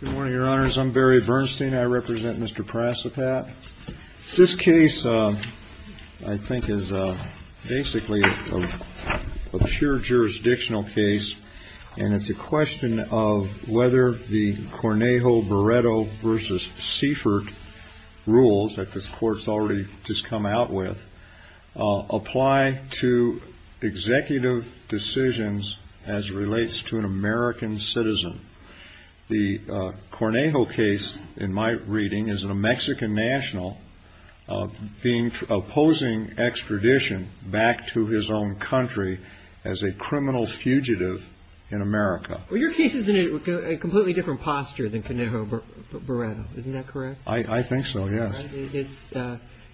Good morning, Your Honors. I'm Barry Bernstein. I represent Mr. Prasoprat. This case, I think, is basically a pure jurisdictional case, and it's a question of whether the Cornejo-Baretto v. Seifert rules that this Court's already just come out with apply to executive decisions as relates to an American citizen. The Cornejo case, in my reading, is a Mexican national opposing extradition back to his own country as a criminal fugitive in America. Well, your case is in a completely different posture than Cornejo-Baretto. Isn't that correct? I think so, yes.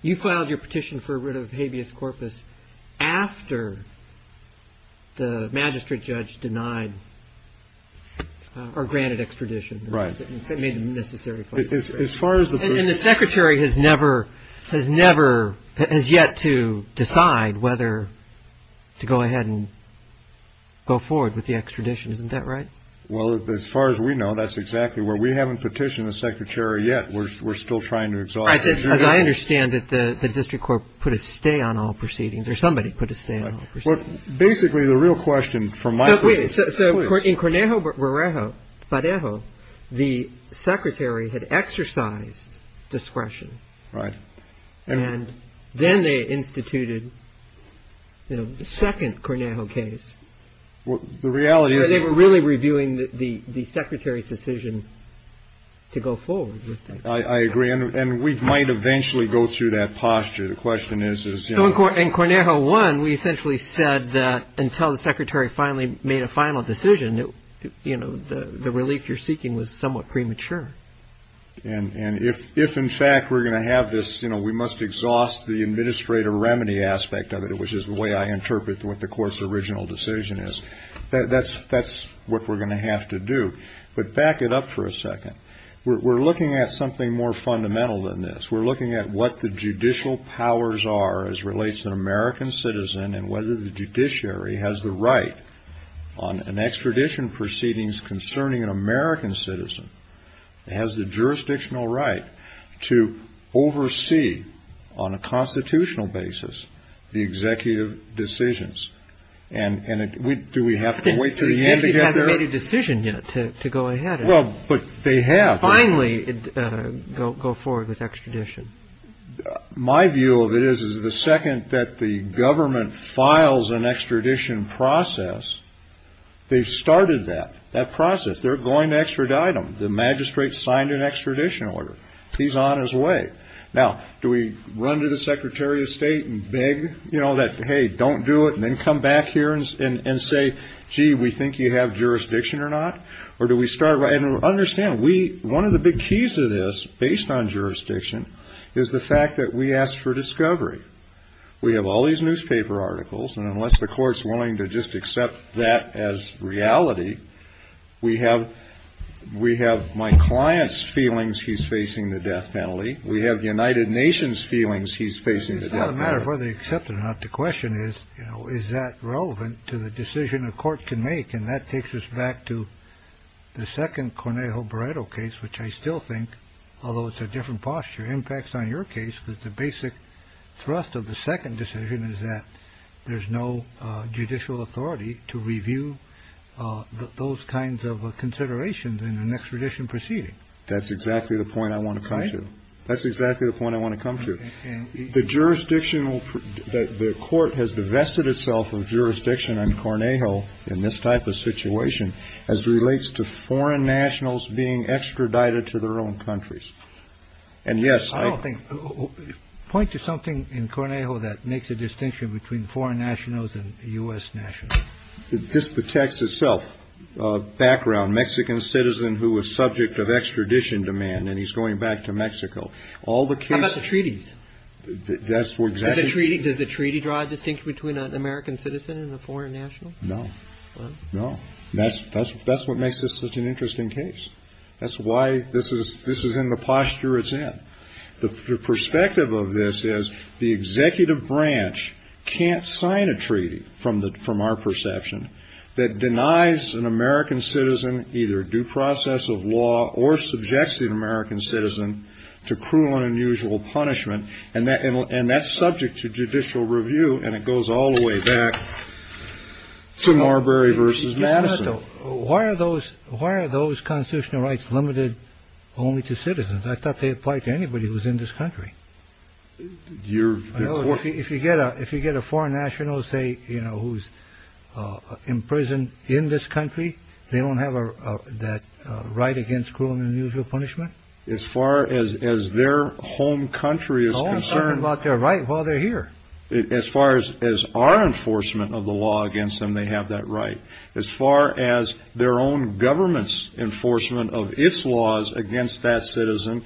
You filed your petition for rid of habeas corpus after the magistrate judge denied or granted extradition. Right. It made the necessary claim. And the Secretary has never, has never, has yet to decide whether to go ahead and go forward with the extradition. Isn't that right? Well, as far as we know, that's exactly where we haven't petitioned the Secretary yet. We're still trying to resolve it. As I understand it, the district court put a stay on all proceedings, or somebody put a stay on all proceedings. Basically, the real question from my point of view is this. So in Cornejo-Baretto, the Secretary had exercised discretion. Right. And then they instituted, you know, the second Cornejo case. The reality is. They were really reviewing the Secretary's decision to go forward. I agree. And we might eventually go through that posture. The question is. In Cornejo-1, we essentially said that until the Secretary finally made a final decision, you know, the relief you're seeking was somewhat premature. And if in fact we're going to have this, you know, we must exhaust the administrative remedy aspect of it, which is the way I interpret what the court's original decision is, that's what we're going to have to do. But back it up for a second. We're looking at something more fundamental than this. We're looking at what the judicial powers are as relates to an American citizen, and whether the judiciary has the right on an extradition proceedings concerning an American citizen, has the jurisdictional right to oversee on a constitutional basis the executive decisions. And do we have to wait until the end to get there? The executive hasn't made a decision yet to go ahead and finally go forward with extradition. My view of it is, is the second that the government files an extradition process, they've started that, that process. They're going to extradite him. The magistrate signed an extradition order. He's on his way. Now, do we run to the Secretary of State and beg, you know, that, hey, don't do it, and then come back here and say, gee, we think you have jurisdiction or not? Or do we start, and understand, one of the big keys to this, based on jurisdiction, is the fact that we ask for discovery. We have all these newspaper articles, and unless the court's willing to just accept that as reality, we have we have my client's feelings. He's facing the death penalty. We have the United Nations feelings. He's facing the matter of whether they accept it or not. The question is, you know, is that relevant to the decision a court can make? And that takes us back to the second Cornejo Brito case, which I still think, although it's a different posture, impacts on your case with the basic thrust of the second decision is that there's no judicial authority to review. Those kinds of considerations in an extradition proceeding. That's exactly the point I want to try to. That's exactly the point I want to come to. And the jurisdiction that the court has divested itself of jurisdiction on Cornejo in this type of situation as relates to foreign nationals being extradited to their own countries. And yes, I think point to something in Cornejo that makes a distinction between foreign nationals and U.S. Just the text itself. Background Mexican citizen who was subject of extradition demand. And he's going back to Mexico. All the treaties. That's what a treaty does. A treaty draw a distinction between an American citizen and a foreign national. No, no. That's that's that's what makes this such an interesting case. That's why this is this is in the posture it's in. The perspective of this is the executive branch can't sign a treaty from the from our perception that denies an American citizen either due process of law or subjects an American citizen to cruel and unusual punishment. And that and that's subject to judicial review. And it goes all the way back to Marbury versus Madison. Why are those why are those constitutional rights limited only to citizens? I thought they applied to anybody who was in this country. You're working. If you get a if you get a foreign national, say, you know, who's in prison in this country, they don't have that right against cruel and unusual punishment. As far as as their home country is concerned about their right while they're here. As far as as our enforcement of the law against them, they have that right. As far as their own government's enforcement of its laws against that citizen,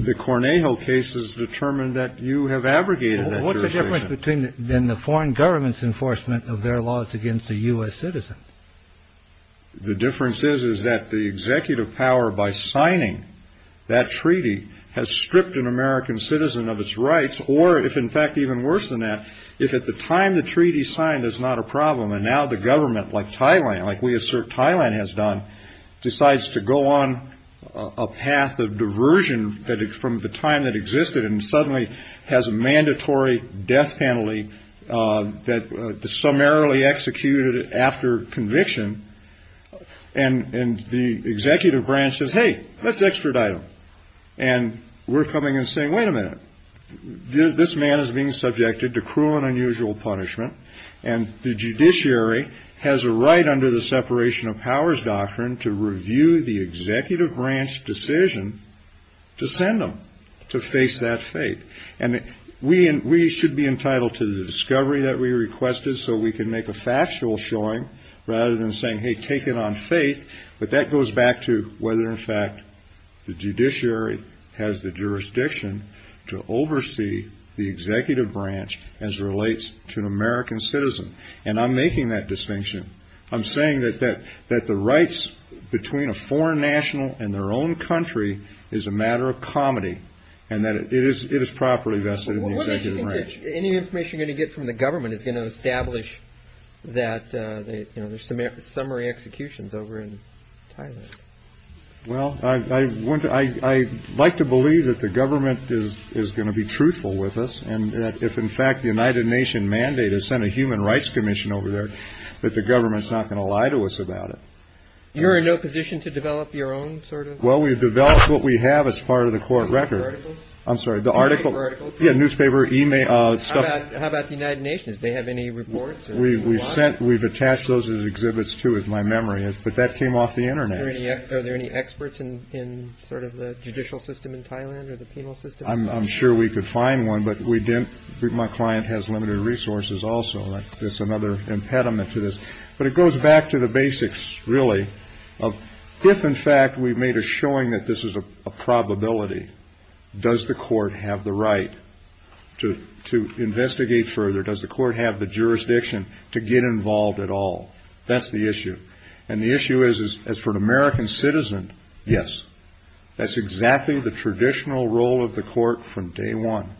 the Cornejo case is determined that you have abrogated. What's the difference between then the foreign government's enforcement of their laws against a U.S. citizen? The difference is, is that the executive power by signing that treaty has stripped an American citizen of its rights or if, in fact, even worse than that, if at the time the treaty signed is not a problem and now the government like Thailand, like we assert Thailand has done, decides to go on a path of diversion from the time that existed and suddenly has a mandatory death penalty that summarily executed after conviction. And the executive branch says, hey, let's extradite him. And we're coming and saying, wait a minute. This man is being subjected to cruel and unusual punishment. And the judiciary has a right under the separation of powers doctrine to review the executive branch decision to send him to face that fate. And we should be entitled to the discovery that we requested so we can make a factual showing rather than saying, hey, take it on faith. But that goes back to whether, in fact, the judiciary has the jurisdiction to oversee the executive branch as relates to an American citizen. And I'm making that distinction. I'm saying that the rights between a foreign national and their own country is a matter of comedy and that it is properly vested in the executive branch. Any information you're going to get from the government is going to establish that there's some summary executions over in Thailand. Well, I want to I like to believe that the government is going to be truthful with us. And if, in fact, the United Nations mandate is sent a Human Rights Commission over there, that the government's not going to lie to us about it. You're in no position to develop your own sort of. Well, we've developed what we have as part of the court record. I'm sorry. The article. Yeah. Newspaper email. So how about the United Nations? They have any reports. We sent we've attached those exhibits to my memory. But that came off the Internet. Are there any experts in sort of the judicial system in Thailand or the penal system? I'm sure we could find one. But we didn't. My client has limited resources also. That's another impediment to this. But it goes back to the basics, really. If, in fact, we've made a showing that this is a probability. Does the court have the right to to investigate further? Does the court have the jurisdiction to get involved at all? That's the issue. And the issue is, is as for an American citizen. Yes, that's exactly the traditional role of the court from day one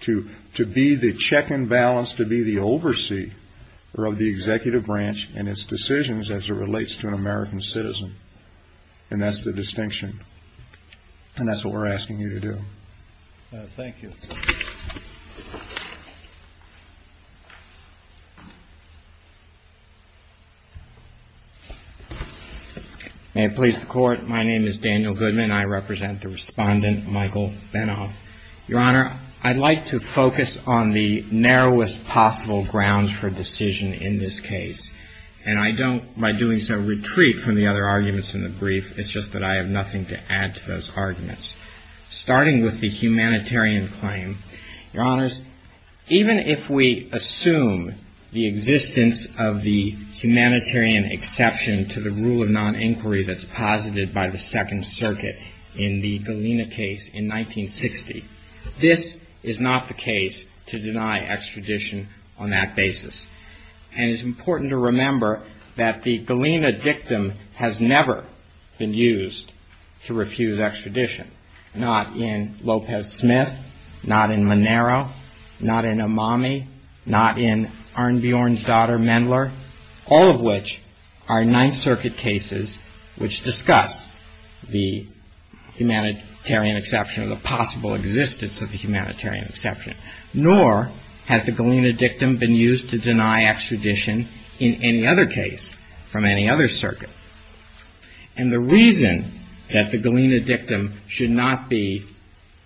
to to be the check and balance, to be the overseer of the executive branch and its decisions as it relates to an American citizen. And that's the distinction. And that's what we're asking you to do. Thank you. May it please the court. My name is Daniel Goodman. I represent the respondent, Michael Beno. Your Honor, I'd like to focus on the narrowest possible grounds for decision in this case. And I don't by doing so retreat from the other arguments in the brief. It's just that I have nothing to add to those arguments. Starting with the humanitarian claim. Your Honors, even if we assume the existence of the humanitarian exception to the rule of non-inquiry that's posited by the Second Circuit in the Galena case in 1960, this is not the case to deny extradition on that basis. And it's important to remember that the Galena dictum has never been used to refuse extradition. Not in Lopez Smith, not in Manero, not in Amami, not in Arne Bjorn's daughter, Mendler. All of which are Ninth Circuit cases which discuss the humanitarian exception, the possible existence of the humanitarian exception. Nor has the Galena dictum been used to deny extradition in any other case from any other circuit. And the reason that the Galena dictum should not be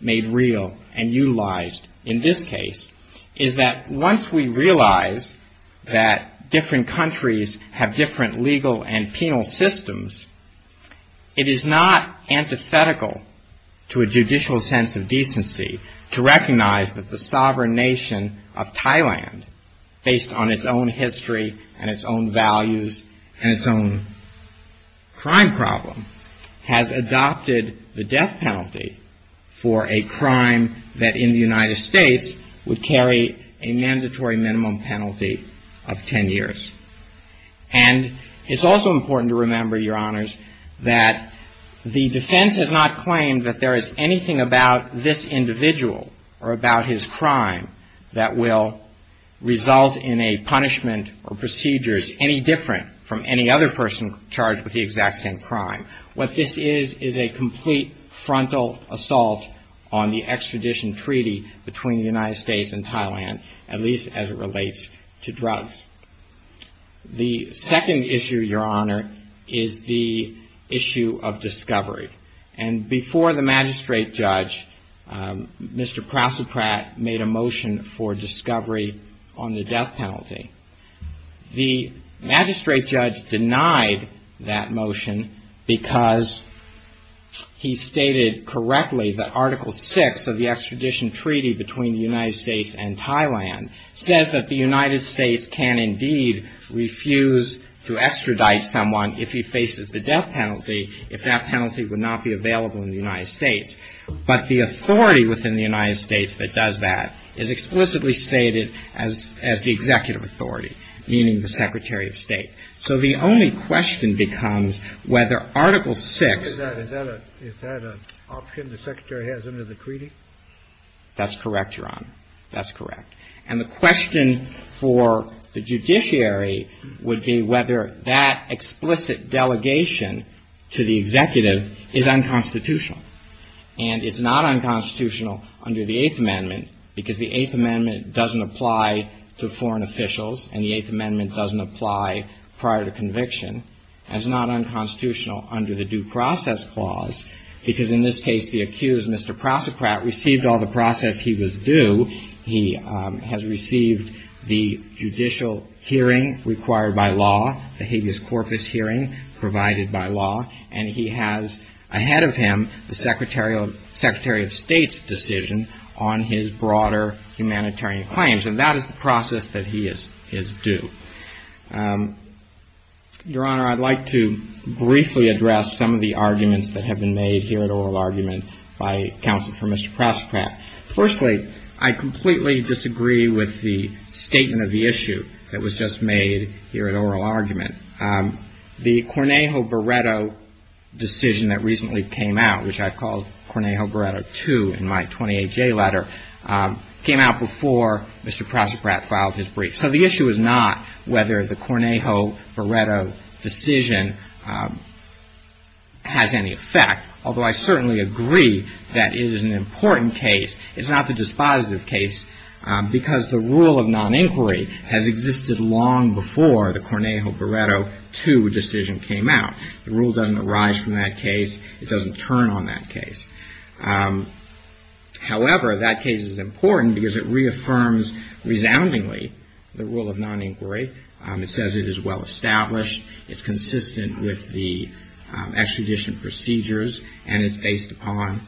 made real and utilized in this case is that once we realize that different countries have different legal and penal systems, it is not antithetical to a judicial sense of decency to recognize that the sovereign nation of Thailand, based on its own history and its own values and its own crime problem, has adopted the death penalty for a crime that in the United States would carry a mandatory minimum penalty of 10 years. And it's also important to remember, Your Honors, that the defense has not claimed that there is anything about this individual or about his crime that will result in a punishment or procedures any different from any other person charged with the exact same crime. What this is is a complete frontal assault on the extradition treaty between the United States and Thailand, at least as it relates to drugs. The second issue, Your Honor, is the issue of discovery. And before the magistrate judge, Mr. Prasoprat made a motion for discovery on the death penalty. The magistrate judge denied that motion because he stated correctly that Article VI of the extradition treaty between the United States and Thailand says that the United States can indeed refuse to extradite someone if he faces the death penalty if that penalty would not be available in the United States. But the authority within the United States that does that is explicitly stated as the executive authority, meaning the secretary of state. So the only question becomes whether Article VI... That's correct, Your Honor. That's correct. And the question for the judiciary would be whether that explicit delegation to the executive is unconstitutional. And it's not unconstitutional under the Eighth Amendment because the Eighth Amendment doesn't apply to foreign officials and the Eighth Amendment doesn't apply prior to conviction. It's not unconstitutional under the Due Process Clause because, in this case, the accused, Mr. Prasoprat, received all the process he was due. He has received the judicial hearing required by law, the habeas corpus hearing provided by law, and he has ahead of him the secretary of state's decision on his broader humanitarian claims. And that is the process that he is due. Your Honor, I'd like to briefly address some of the arguments that have been made here at oral argument by counsel for Mr. Prasoprat. Firstly, I completely disagree with the statement of the issue that was just made here at oral argument. The Cornejo-Baretto decision that recently came out, which I called Cornejo-Baretto II in my 28-J letter, came out before Mr. Prasoprat filed his brief. So the issue is not whether the Cornejo-Baretto decision has any effect, although I certainly agree that it is an important case. It's not the dispositive case because the rule of non-inquiry has existed long before the Cornejo-Baretto II decision came out. The rule doesn't arise from that case. It doesn't turn on that case. However, that case is important because it reaffirms resoundingly the rule of non-inquiry. It says it is well established. It's consistent with the extradition procedures, and it's based upon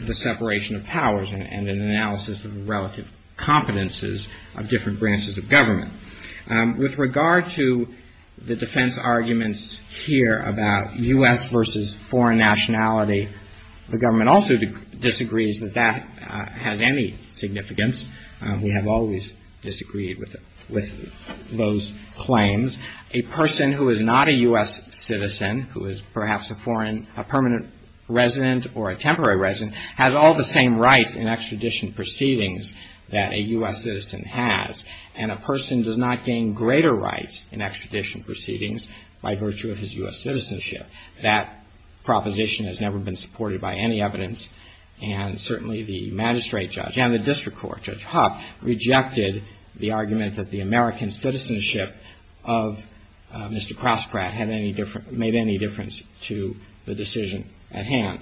the separation of powers and an analysis of relative competences of different branches of government. With regard to the defense arguments here about U.S. versus foreign nationality, the government also disagrees that that has any significance. We have always disagreed with those claims. A person who is not a U.S. citizen, who is perhaps a permanent resident or a temporary resident, has all the same rights in extradition proceedings that a U.S. citizen has, and a person does not gain greater rights in extradition proceedings by virtue of his U.S. citizenship. That proposition has never been supported by any evidence, and certainly the magistrate judge and the district court, Judge Huck, rejected the argument that the American citizenship of Mr. Crossbrad made any difference to the decision at hand.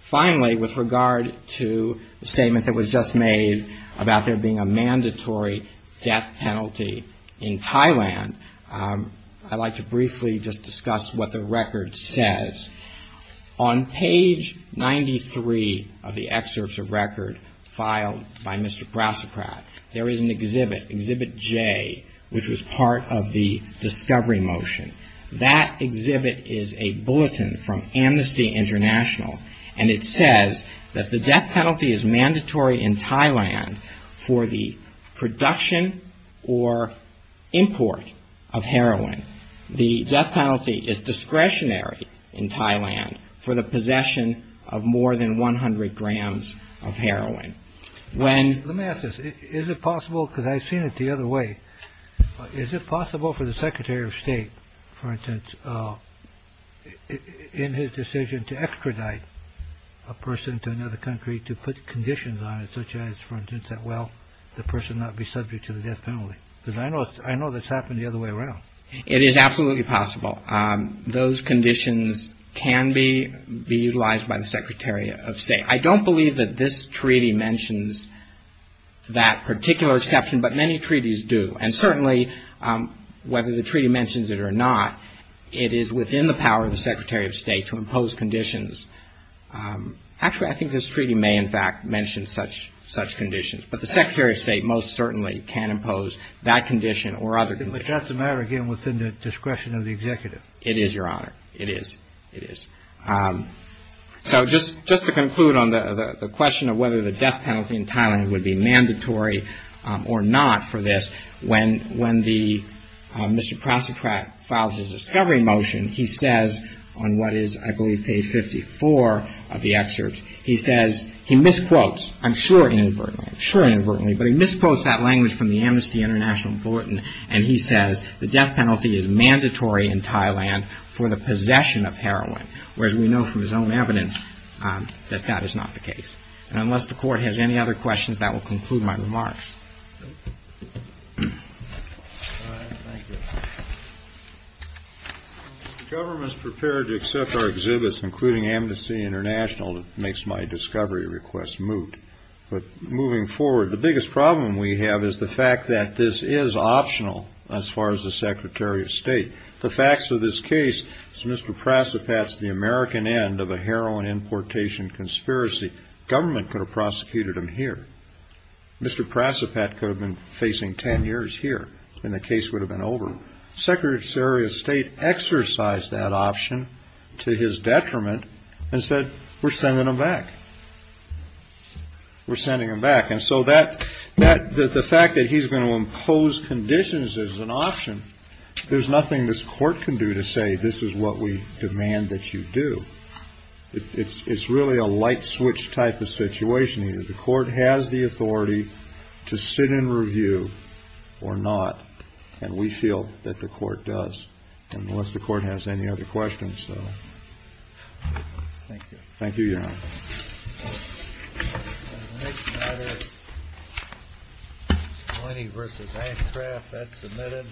Finally, with regard to the statement that was just made about there being a mandatory death penalty in Thailand, I'd like to briefly just discuss what the record says. On page 93 of the excerpts of record filed by Mr. Crossbrad, there is an exhibit, Exhibit J, which was part of the discovery motion. That exhibit is a bulletin from Amnesty International, and it says that the death penalty is mandatory in Thailand for the production or import of heroin. The death penalty is discretionary in Thailand for the possession of more than 100 grams of heroin. Let me ask this. Is it possible, because I've seen it the other way, is it possible for the secretary of state, for instance, in his decision to extradite a person to another country to put conditions on it, such as, for instance, that, well, the person not be subject to the death penalty? Because I know I know that's happened the other way around. It is absolutely possible. Those conditions can be utilized by the secretary of state. I don't believe that this treaty mentions that particular exception, but many treaties do. And certainly, whether the treaty mentions it or not, it is within the power of the secretary of state to impose conditions. Actually, I think this treaty may, in fact, mention such conditions. But the secretary of state most certainly can impose that condition or other conditions. But that's a matter, again, within the discretion of the executive. It is, Your Honor. It is. It is. So just to conclude on the question of whether the death penalty in Thailand would be mandatory or not for this, when the Mr. Prosecutor files his discovery motion, he says on what is, I believe, page 54 of the excerpt, he says, he misquotes, I'm sure inadvertently, I'm sure inadvertently, but he misquotes that language from the Amnesty International bulletin, and he says the death penalty is mandatory in Thailand for the possession of heroin, whereas we know from his own evidence that that is not the case. And unless the Court has any other questions, that will conclude my remarks. All right. Thank you. If the government is prepared to accept our exhibits, including Amnesty International, it makes my discovery request moot. But moving forward, the biggest problem we have is the fact that this is optional as far as the secretary of state. The facts of this case is Mr. Prasipat's the American end of a heroin importation conspiracy. Government could have prosecuted him here. Mr. Prasipat could have been facing 10 years here, and the case would have been over. Secretary of State exercised that option to his detriment and said, we're sending him back. We're sending him back. And so the fact that he's going to impose conditions as an option, there's nothing this Court can do to say this is what we demand that you do. It's really a light switch type of situation here. The Court has the authority to sit and review or not, and we feel that the Court does. Unless the Court has any other questions, though. Thank you. Thank you, Your Honor. The next matter is Moyni versus Antcraft. That's submitted.